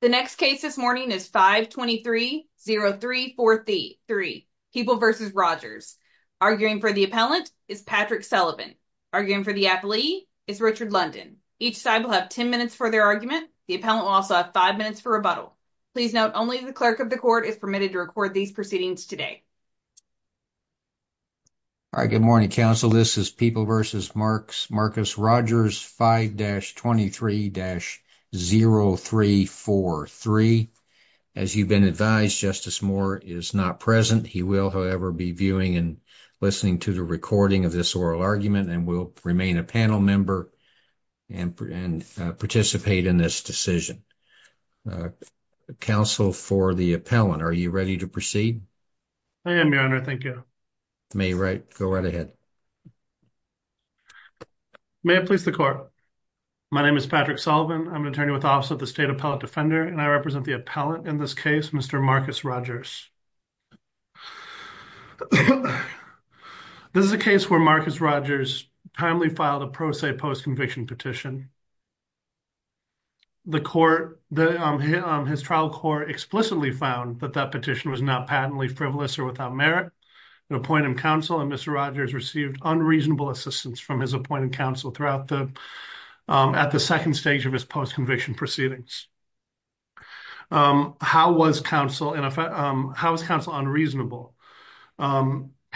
The next case this morning is 523-0343, People v. Rodgers. Arguing for the appellant is Patrick Sullivan. Arguing for the appellee is Richard London. Each side will have 10 minutes for their argument. The appellant will also have 5 minutes for rebuttal. Please note only the clerk of the court is permitted to record these proceedings today. All right, good morning, counsel. This is People v. Marcus Rodgers, 5-23-0343. As you've been advised, Justice Moore is not present. He will, however, be viewing and listening to the recording of this oral argument and will remain a panel member and participate in this decision. Counsel for the appellant, are you ready to proceed? I am, Your Honor, thank you. May I please the court? My name is Patrick Sullivan. I'm an attorney with the Office of the State Appellate Defender, and I represent the appellant in this case, Mr. Marcus Rodgers. This is a case where Marcus Rodgers timely filed a pro se post-conviction petition. His trial court explicitly found that that petition was not patently frivolous or without merit. The appointed counsel, Mr. Rodgers, received unreasonable assistance from his appointed counsel at the second stage of his post-conviction proceedings. How was counsel unreasonable?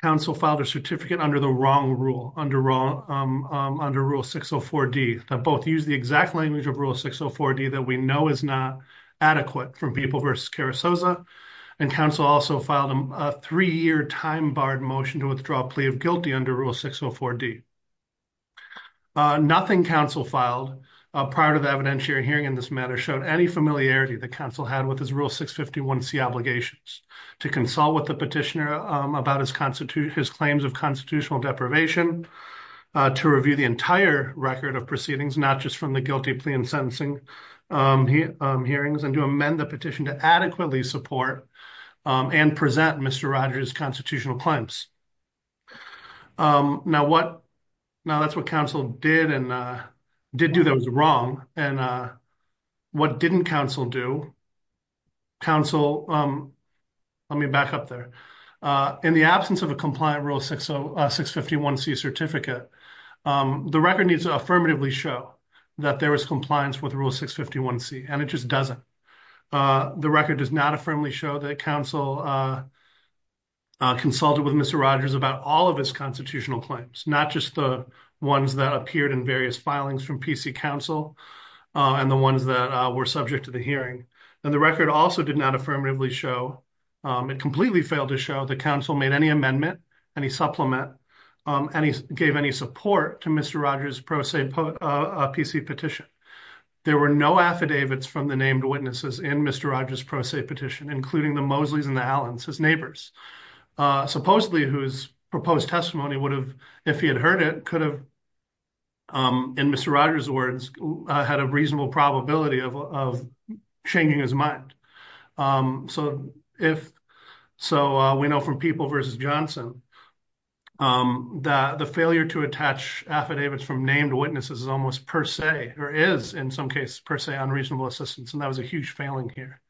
Counsel filed a certificate under the wrong rule, under Rule 604D, that both use the exact language of Rule 604D that we know is not adequate from People v. Carrizoza, and counsel also filed a three-year time-barred motion to withdraw plea of guilty under Rule 604D. Nothing counsel filed prior to the evidentiary hearing in this matter showed any familiarity that counsel had with his Rule 651C obligations to consult with the petitioner about his claims of constitutional deprivation, to review the entire record of proceedings, not just from the guilty plea and sentencing hearings, and to amend the petition to adequately support and present Mr. Rodgers' constitutional claims. Now, that's what counsel did and did do that was wrong, and what didn't counsel do, counsel, let me back up there, in the absence of a compliant Rule 651C certificate, the record needs to affirmatively show that there was compliance with Rule 651C, and it just doesn't. The record does not affirmably show that counsel consulted with Mr. Rodgers about all of his constitutional claims, not just the ones that appeared in various filings from PC counsel and the ones that were subject to the hearing, and the record also did not affirmatively show, it completely failed to show, that counsel made any amendment, any supplement, and he gave any support to Mr. Rodgers' pro se PC petition. There were no affidavits from the named witnesses in Mr. Rodgers' pro se petition, including the Mosleys and the Allens, his neighbors, supposedly whose proposed testimony would have, if he had heard it, could have, in Mr. Rodgers' words, had a reasonable probability of changing his mind. So, we know from People v. Johnson that the failure to attach affidavits from named witnesses is almost per se, or is in some cases per se, unreasonable assistance, and that was a huge failing here.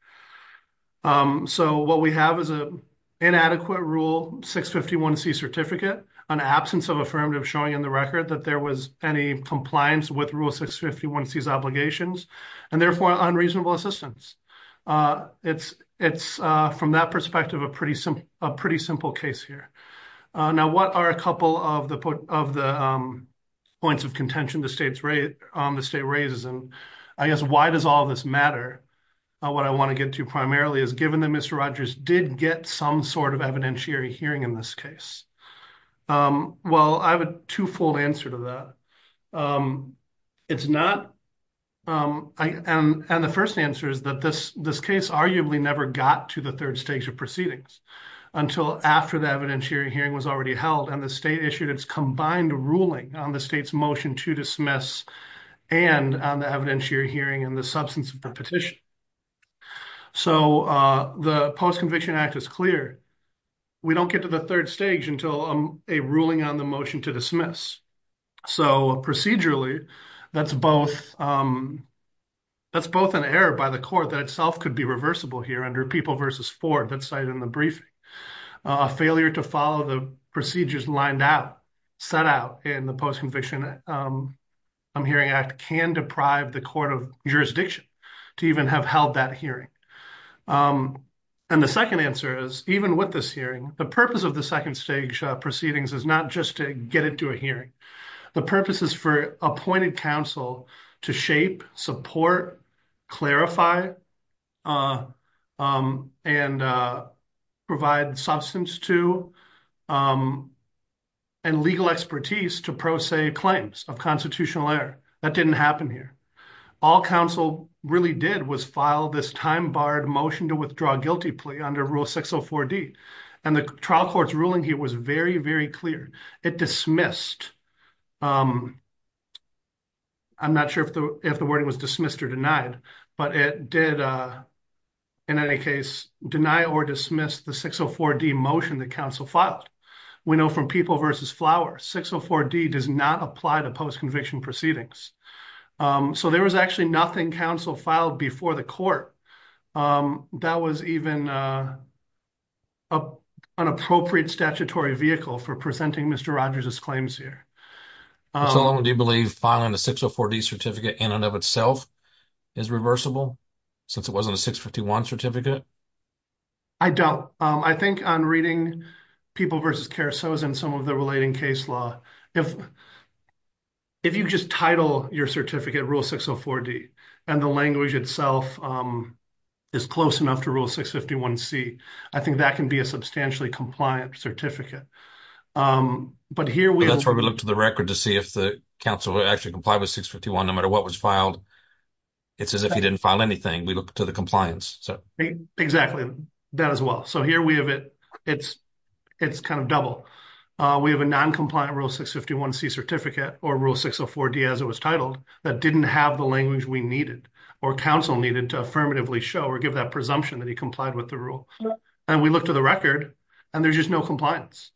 So, what we have is an inadequate Rule 651C certificate, an absence of affirmative showing in the record that there was any compliance with Rule 651C's obligations, and therefore, unreasonable assistance. It's, from that perspective, a pretty simple case here. Now, what are a couple of the points of contention the state raises, and I guess, why does all this matter? What I want to get to primarily is, given that Mr. Rodgers did get some evidentiary hearing in this case. Well, I have a two-fold answer to that. It's not, and the first answer is that this case arguably never got to the third stage of proceedings until after the evidentiary hearing was already held, and the state issued its combined ruling on the state's motion to dismiss and on the evidentiary hearing and the substance of the we don't get to the third stage until a ruling on the motion to dismiss. So, procedurally, that's both an error by the court that itself could be reversible here under People v. Ford that's cited in the briefing. A failure to follow the procedures lined out, set out, in the Post-Conviction Hearing Act can deprive the court of jurisdiction to even have held that hearing. And the second answer is, even with this hearing, the purpose of the second stage proceedings is not just to get it to a hearing. The purpose is for appointed counsel to shape, support, clarify, and provide substance to and legal expertise to pro se claims of error. That didn't happen here. All counsel really did was file this time-barred motion to withdraw guilty plea under Rule 604D, and the trial court's ruling here was very, very clear. It dismissed, I'm not sure if the wording was dismissed or denied, but it did, in any case, deny or dismiss the 604D motion that counsel filed. We know from People v. Flower, 604D does not apply to post-conviction proceedings. So there was actually nothing counsel filed before the court that was even an appropriate statutory vehicle for presenting Mr. Rogers' claims here. So do you believe filing the 604D certificate in and of itself is reversible, since it wasn't a 651 certificate? I don't. I think on reading People v. Caruso's and some of the relating case law, if you just title your certificate Rule 604D and the language itself is close enough to Rule 651C, I think that can be a substantially compliant certificate. But here we- That's where we look to the record to see if the counsel actually complied with 651, no matter what was filed. It's as if he didn't file anything. We have a non-compliant Rule 651C certificate or Rule 604D, as it was titled, that didn't have the language we needed or counsel needed to affirmatively show or give that presumption that he complied with the rule. And we look to the record and there's just no compliance.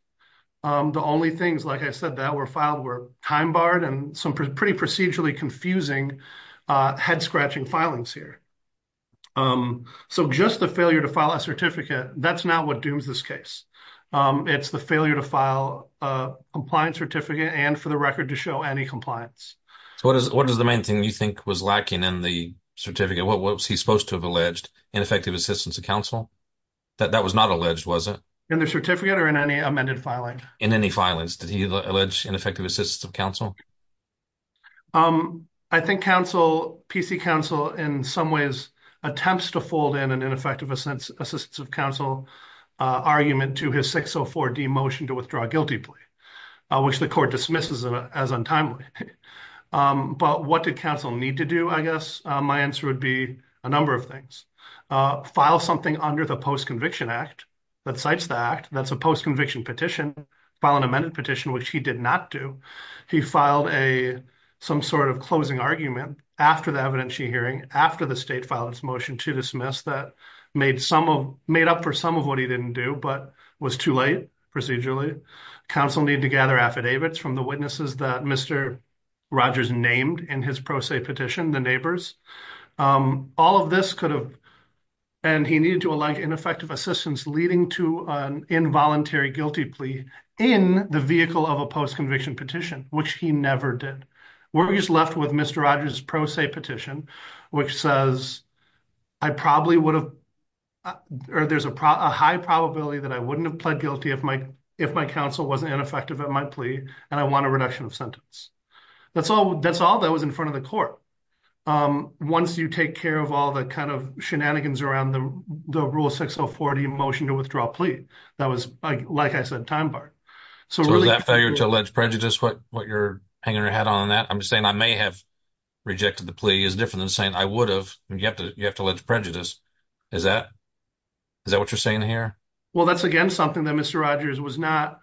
The only things, like I said, that were filed were time barred and some pretty procedurally confusing head scratching filings here. So just the failure to file a certificate, that's not what dooms this case. It's the failure to file a compliant certificate and for the record to show any compliance. So what is the main thing you think was lacking in the certificate? What was he supposed to have alleged? Ineffective assistance of counsel? That was not alleged, was it? In the certificate or in any amended filing? In any filings. Did he PC counsel, in some ways, attempts to fold in an ineffective assistance of counsel argument to his 604D motion to withdraw guilty plea, which the court dismisses as untimely. But what did counsel need to do, I guess? My answer would be a number of things. File something under the Post-Conviction Act that cites the act. That's a post-conviction petition. File an amended argument after the evidentiary hearing, after the state filed its motion to dismiss that, made up for some of what he didn't do, but was too late procedurally. Counsel needed to gather affidavits from the witnesses that Mr. Rogers named in his pro se petition, the neighbors. All of this could have, and he needed to align ineffective assistance leading to an involuntary guilty plea in the vehicle of a post-conviction petition, which he never did. We're just left with Mr. Rogers' pro se petition, which says, I probably would have, or there's a high probability that I wouldn't have pled guilty if my counsel wasn't ineffective at my plea, and I want a reduction of sentence. That's all that was in front of the court. Once you take care of all the kind of shenanigans around the Rule 604D motion to withdraw plea, that was, like I said, time-barred. So was that failure to allege prejudice what you're hanging your head on that? I'm saying I may have rejected the plea is different than saying I would have, and you have to, you have to allege prejudice. Is that, is that what you're saying here? Well, that's again something that Mr. Rogers was not,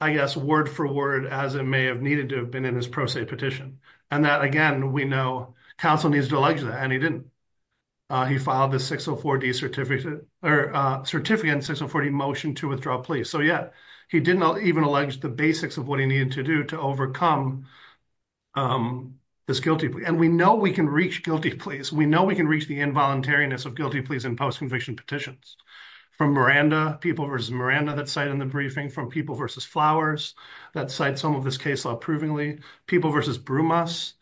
I guess, word for word as it may have needed to have been in his pro se petition, and that, again, we know counsel needs to allege that, and he didn't. He filed the 604D certificate, or certificate in 604D motion to withdraw plea. So yeah, he didn't even allege the basics of what he needed to do to overcome this guilty plea, and we know we can reach guilty pleas. We know we can reach the involuntariness of guilty pleas in post-conviction petitions from Miranda, people versus Miranda that cite in the briefing, from people versus Flowers that cite some of this case law provingly, people versus Brumas.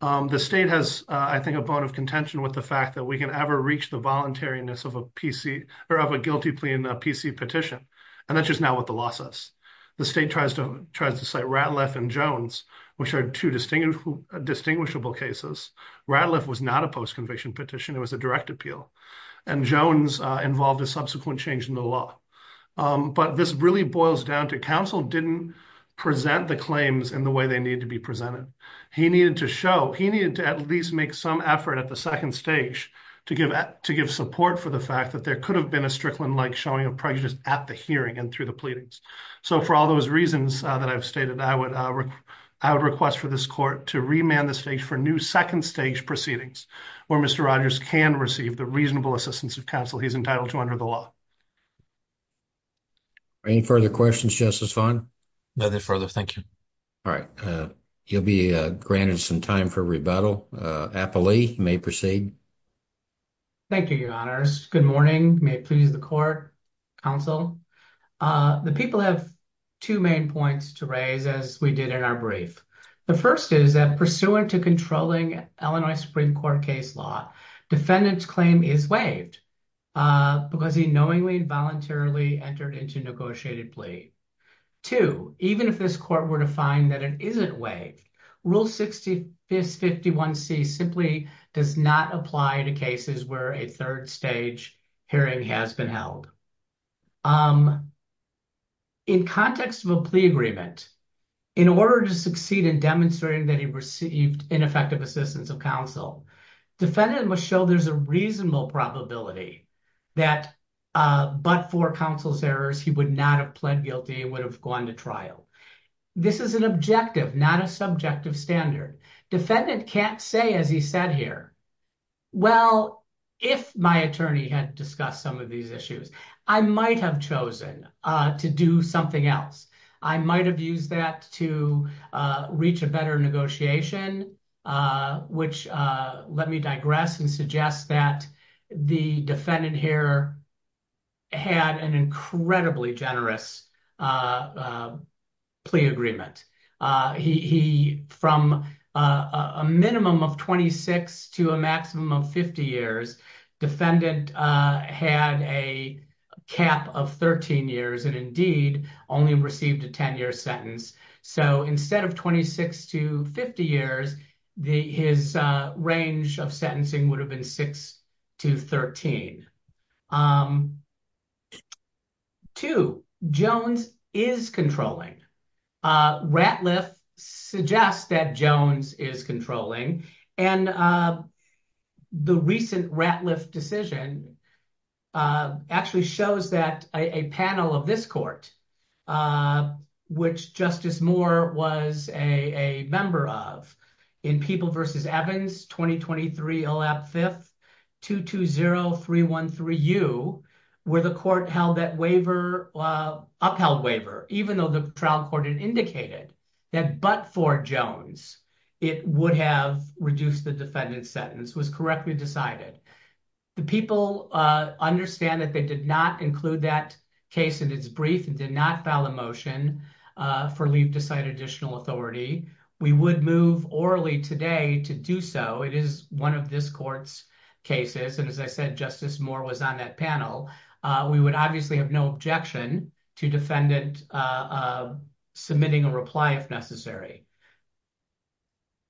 The state has, I think, a bone of contention with the fact that we can ever reach the voluntariness of a PC, or of a guilty plea in a PC petition, and that's just now what the law says. The state tries to cite Ratliff and Jones, which are two distinguishable cases. Ratliff was not a post-conviction petition, it was a direct appeal, and Jones involved a subsequent change in the law, but this really boils down to counsel didn't present the claims in the way they needed to be presented. He needed to show, he needed to at least make some effort at the second stage to give support for the fact that there could have been a Strickland-like showing of prejudice at the hearing and through the pleadings. So for all those reasons that I've stated, I would request for this court to remand the stage for new second stage proceedings, where Mr. Rogers can receive the reasonable assistance of counsel he's entitled to under the law. Any further questions, Justice Vaughn? Nothing further, thank you. All right, you'll be granted some time for rebuttal. Applee, you may proceed. Thank you, your honors. Good morning, may it please the court, counsel. The people have two main points to raise, as we did in our brief. The first is that pursuant to controlling Illinois Supreme Court case law, defendant's claim is waived because he knowingly and voluntarily entered into negotiated plea. Two, even if this court were to find that it isn't waived, Rule 651C simply does not apply to cases where a third stage hearing has been held. In context of a plea agreement, in order to succeed in demonstrating that he received ineffective assistance of counsel, defendant must show there's a reasonable probability that but for counsel's errors, he would not have pled guilty and would have gone to trial. This is an objective, not a subjective standard. Defendant can't say as he said here, well, if my attorney had discussed some of these issues, I might have chosen to do something else. I might have used that to reach a better negotiation, which let me digress and suggest that the defendant here had an incredibly generous plea agreement. From a minimum of 26 to a maximum of 50 years, defendant had a cap of 13 years and indeed only received a 10-year sentence. Instead of 26 to 50 years, his range of sentencing would have been 6 to 13. Two, Jones is controlling. Ratliff suggests that Jones is controlling. The recent Ratliff decision actually shows that a panel of this court, which Justice Moore was a member of, in People v. Evans, 2023, OLAP 5th, 220313U, where the court held that waiver, upheld waiver, even though the trial court had indicated that but for Jones, it would have reduced the defendant's time to decide it. The people understand that they did not include that case in its brief and did not file a motion for leave to cite additional authority. We would move orally today to do so. It is one of this court's cases and as I said, Justice Moore was on that panel. We would obviously have no objection to defendant submitting a reply if necessary.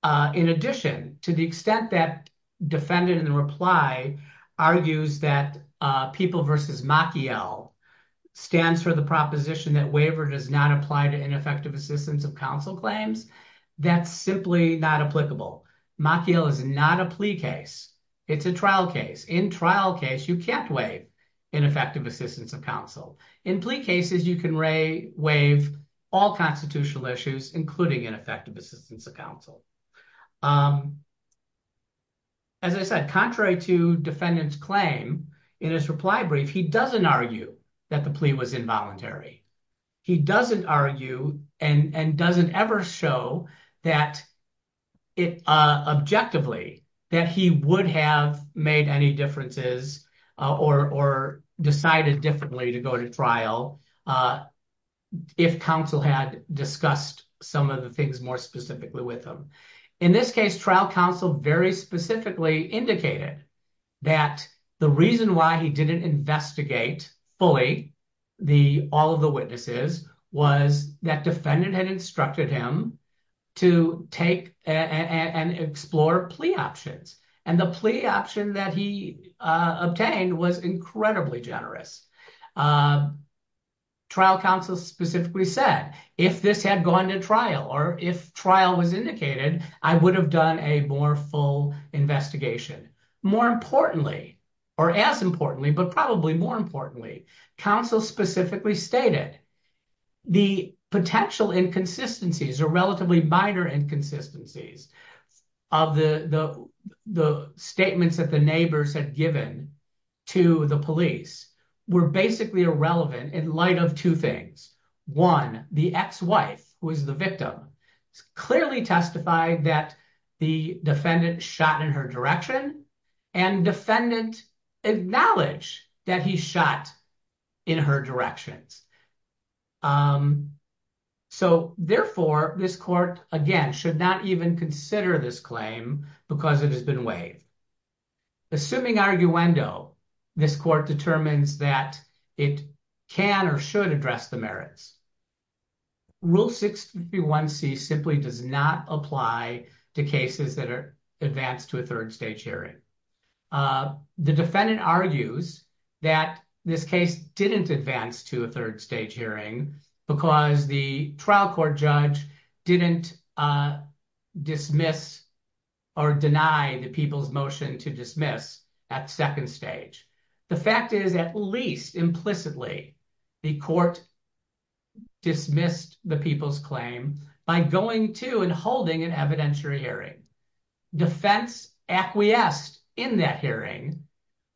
In addition, to the extent that defendant in the reply argues that People v. Maciel stands for the proposition that waiver does not apply to ineffective assistance of counsel claims, that's simply not applicable. Maciel is not a plea case. It's a trial case. In trial case, you can't waive ineffective assistance of counsel. In plea cases, you can waive all constitutional issues, including ineffective assistance of counsel. As I said, contrary to defendant's claim, in his reply brief, he doesn't argue that the plea was involuntary. He doesn't argue and doesn't ever show that objectively that he would have made any differences or decided differently to go to trial if counsel had discussed some of the things more specifically with him. In this case, trial counsel very specifically indicated that the reason why he didn't investigate fully all of the witnesses was that defendant had instructed him to take and explore plea options and the plea option that he obtained was incredibly generous. Trial counsel specifically said, if this had gone to trial or if trial was indicated, I would have done a more full investigation. More importantly, or as importantly, but probably more importantly, counsel specifically stated the potential inconsistencies or relatively minor inconsistencies of the statements that neighbors had given to the police were basically irrelevant in light of two things. One, the ex-wife who is the victim clearly testified that the defendant shot in her direction and defendant acknowledged that he shot in her directions. Therefore, this court, again, should not even consider this claim because it has been waived. Assuming arguendo, this court determines that it can or should address the merits. Rule 651c simply does not apply to cases that are advanced to a third stage hearing. The defendant argues that this case didn't advance to a third stage hearing because the trial court judge didn't dismiss or deny the people's motion to dismiss at second stage. The fact is, at least implicitly, the court dismissed the people's claim by going to and holding an evidentiary hearing. Defense acquiesced in that hearing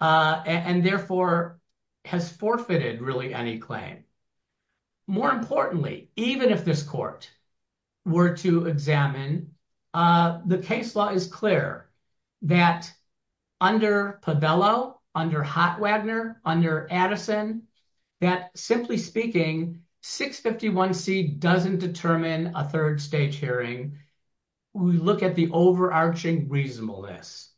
and therefore has forfeited really any claim. More importantly, even if this court were to examine, the case law is clear that under Povello, under Hotwagner, under Addison, that simply speaking, 651c doesn't determine a third stage hearing. We look at the overarching reasonableness.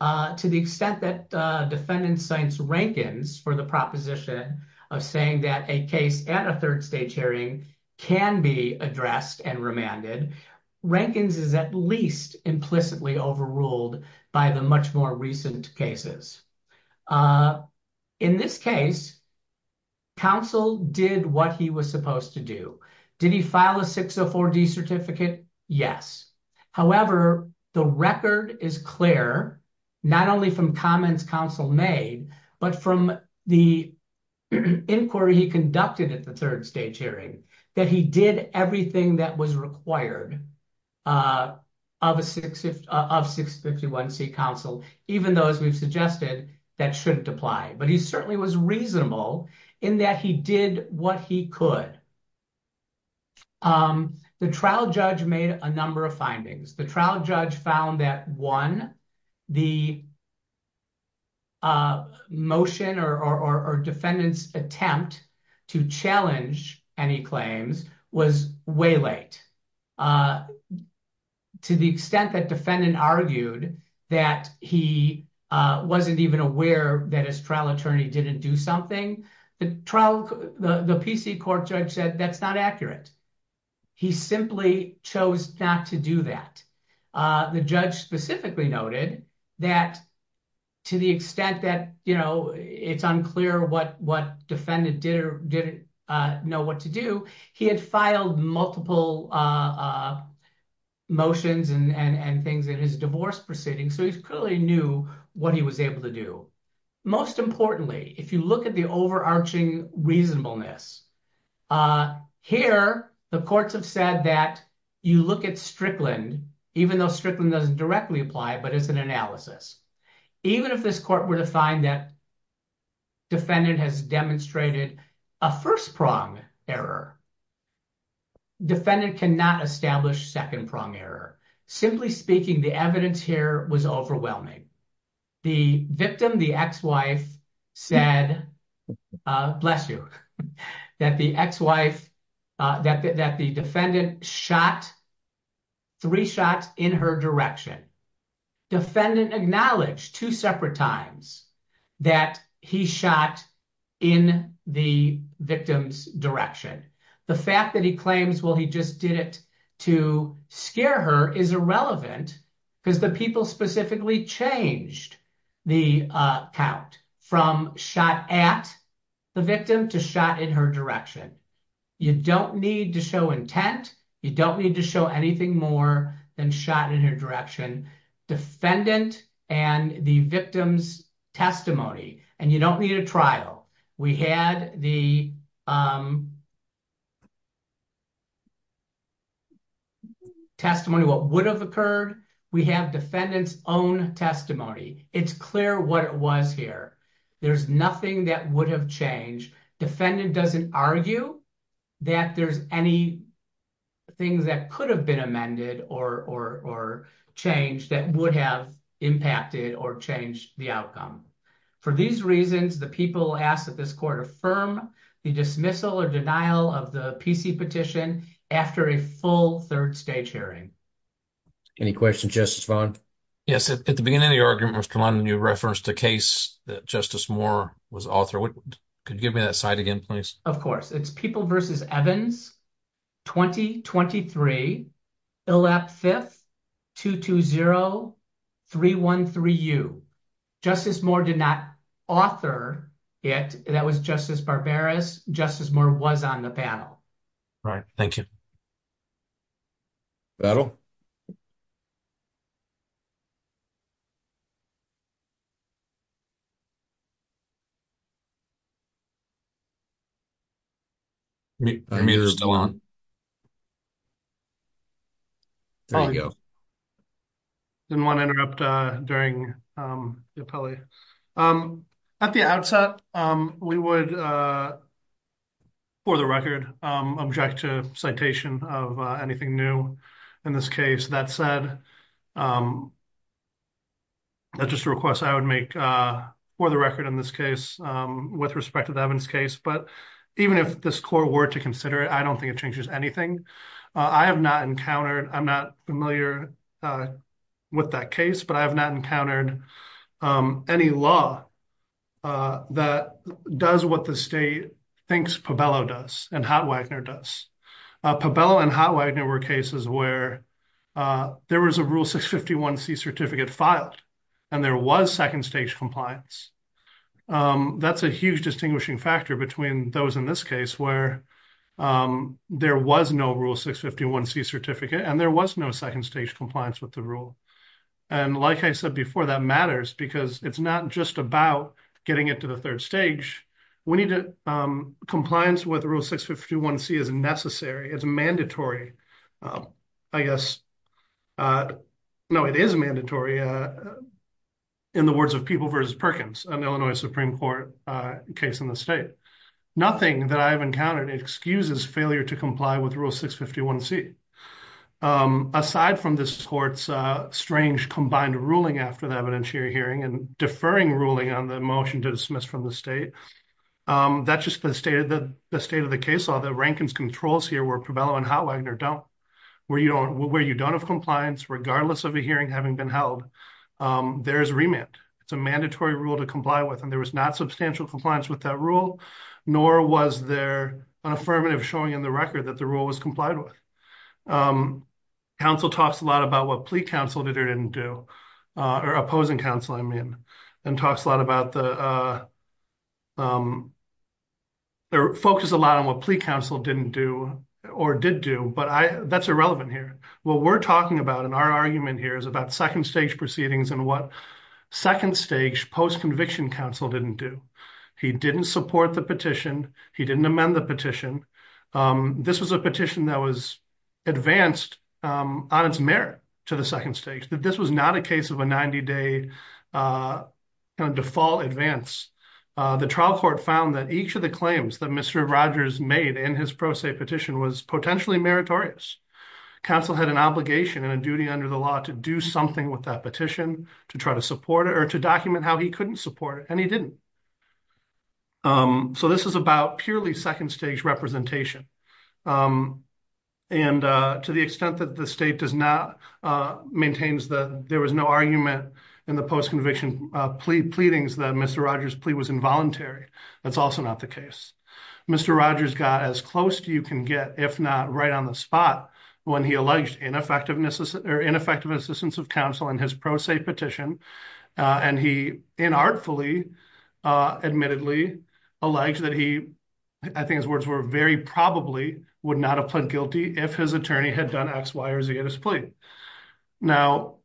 To the extent that defendant cites Rankins for the proposition of saying that a case at a third stage hearing can be addressed and remanded, Rankins is at least implicitly overruled by the much more recent cases. In this case, counsel did what he was supposed to do. Did he file a 604d certificate? Yes. However, the record is clear, not only from comments counsel made, but from the inquiry he conducted at the third stage hearing that he did everything that was required of 651c counsel, even those we've suggested that shouldn't apply. But he was reasonable in that he did what he could. The trial judge made a number of findings. The trial judge found that one, the motion or defendant's attempt to challenge any claims was way late. To the extent that defendant argued that he wasn't even aware that his trial attorney didn't do something, the trial, the PC court judge said that's not accurate. He simply chose not to do that. The judge specifically noted that to the extent that, you know, it's unclear what defendant did or didn't know what to do, he had filed multiple motions and things in his divorce proceeding, so he clearly knew what he was able to do. Most importantly, if you look at the overarching reasonableness, here the courts have said that you look at Strickland, even though Strickland doesn't directly apply, but it's an analysis. Even if this court were to find that defendant has demonstrated a first-prong error, defendant cannot establish second-prong error. Simply speaking, the evidence here was overwhelming. The victim, the ex-wife, said, bless you, that the ex-wife, that the defendant shot, three shots in her direction. Defendant acknowledged two separate times that he shot in the victim's direction. The fact that he claims, well, he just did it to scare her is irrelevant because the people specifically changed the count from shot at the victim to shot in her direction. You don't need to show intent. You don't need to show anything more than shot in her direction. Defendant and the victim's testimony, and you don't need a trial. We had the defendant's testimony. What would have occurred? We have defendant's own testimony. It's clear what it was here. There's nothing that would have changed. Defendant doesn't argue that there's any things that could have been amended or changed that would have impacted or changed the outcome. For these reasons, the people ask that this court affirm the dismissal or denial of the PC petition after a full third-stage hearing. Any questions, Justice Vaughn? Yes. At the beginning of the argument, Mr. London, you referenced a case that Justice Moore was author. Could you give me that site again, please? Of course. It's People v. Evans, 2023, ILAP 5th, 220-313U. Justice Moore did not author it. That was Justice Barbaras. Justice Moore was on the panel. Right. Thank you. I didn't want to interrupt during the appellee. At the outset, we would, for the record, object to citation of anything new in this case. That said, that's just a request I would make for the record in this case with respect to the Evans case. Even if this court were to consider it, I don't think it changes anything. I'm not familiar with that case, but I have not encountered any law that does what the state thinks Pabello does and Hotwagoner does. Pabello and Hotwagoner were cases where there was a Rule 651c certificate filed and there was second-stage compliance. That's a huge distinguishing factor between those in this case where there was no Rule 651c certificate and there was no second-stage compliance with the rule. Like I said before, that matters because it's not just about getting it to the third stage. Compliance with Rule 651c is necessary. It's mandatory, I guess. No, it is mandatory in the words of People v. Perkins, an Illinois Supreme Court case in the Nothing that I've encountered excuses failure to comply with Rule 651c. Aside from this court's strange combined ruling after the evidentiary hearing and deferring ruling on the motion to dismiss from the state, that's just the state of the case law that Rankin's controls here where Pabello and Hotwagoner don't. Where you don't have compliance regardless of a hearing having been held, there is remand. It's a mandatory rule to comply with and there was not substantial compliance with that rule nor was there an affirmative showing in the record that the rule was complied with. Counsel talks a lot about what plea counsel did or didn't do or opposing counsel, I mean, and talks a lot about the... They're focused a lot on what plea counsel didn't do or did do, but that's irrelevant here. What we're talking about in our argument here is about second-stage proceedings and what second-stage post-conviction counsel didn't do. He didn't support the petition. He didn't amend the petition. This was a petition that was advanced on its merit to the second stage. This was not a case of a 90-day default advance. The trial court found that each of the claims that Mr. Rogers made in his pro se petition was potentially meritorious. Counsel had an obligation and a duty under the law to do something with that petition, to try to support it, or to document how he couldn't support it, and he didn't. So this is about purely second-stage representation. And to the extent that the state does not... Maintains that there was no argument in the post-conviction pleadings that Mr. Rogers' plea was involuntary, that's also not the case. Mr. Rogers got as close to you can get, if not right on the spot, when he alleged ineffective assistance of counsel in his pro se petition, and he inartfully, admittedly, alleged that he, I think his words were, very probably would not have pled guilty if his attorney had done X, Y, or Z in his plea. Now,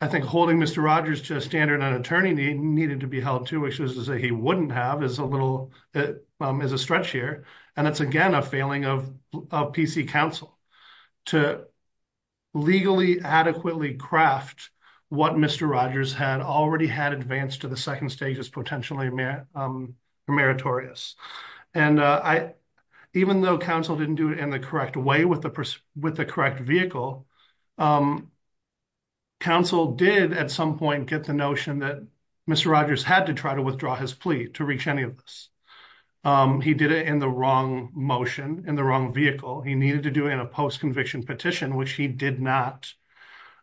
I think holding Mr. Rogers to a standard an attorney needed to be held to, which is to say he wouldn't have, it is a stretch here, and it's again a failing of PC counsel to legally, adequately craft what Mr. Rogers had already had advanced to the second stage as potentially meritorious. And even though counsel didn't do it in the correct way with the correct vehicle, counsel did at some point get the notion that Mr. Rogers had to try to withdraw his plea to reach any of this. He did it in the wrong motion, in the wrong vehicle. He needed to do it in a post-conviction petition, which he did not.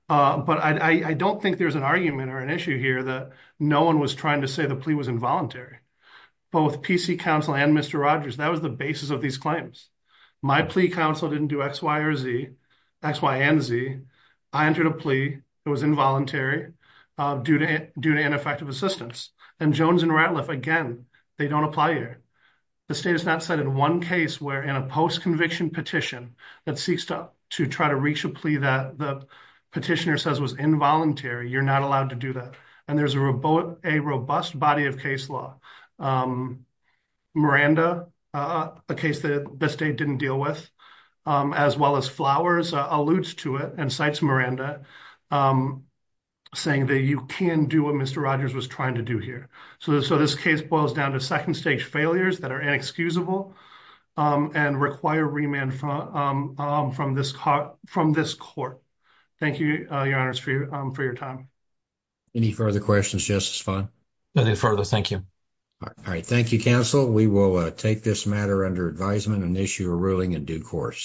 But I don't think there's an argument or an issue here that no one was trying to say the plea was involuntary. Both PC counsel and Mr. Rogers, that was the basis of these claims. My plea counsel didn't do X, Y, or Z, X, Y, and Z. I entered a plea. It was involuntary due to ineffective assistance. And Jones and Ratliff, again, they don't apply here. The state has not cited one case where in a post-conviction petition that seeks to try to reach a plea that the petitioner says was involuntary, you're not allowed to do that. And there's a robust body of case law. Miranda, a case that the state didn't deal with, as well as Flowers, alludes to it and cites Miranda saying that you can do what Mr. Rogers was trying to do here. So this case boils down to second stage failures that are inexcusable and require remand from this court. Thank you, your honors, for your time. Any further questions, Justice Fung? No further. Thank you. All right. Thank you, counsel. We will take this matter under advisement and issue a ruling in due course.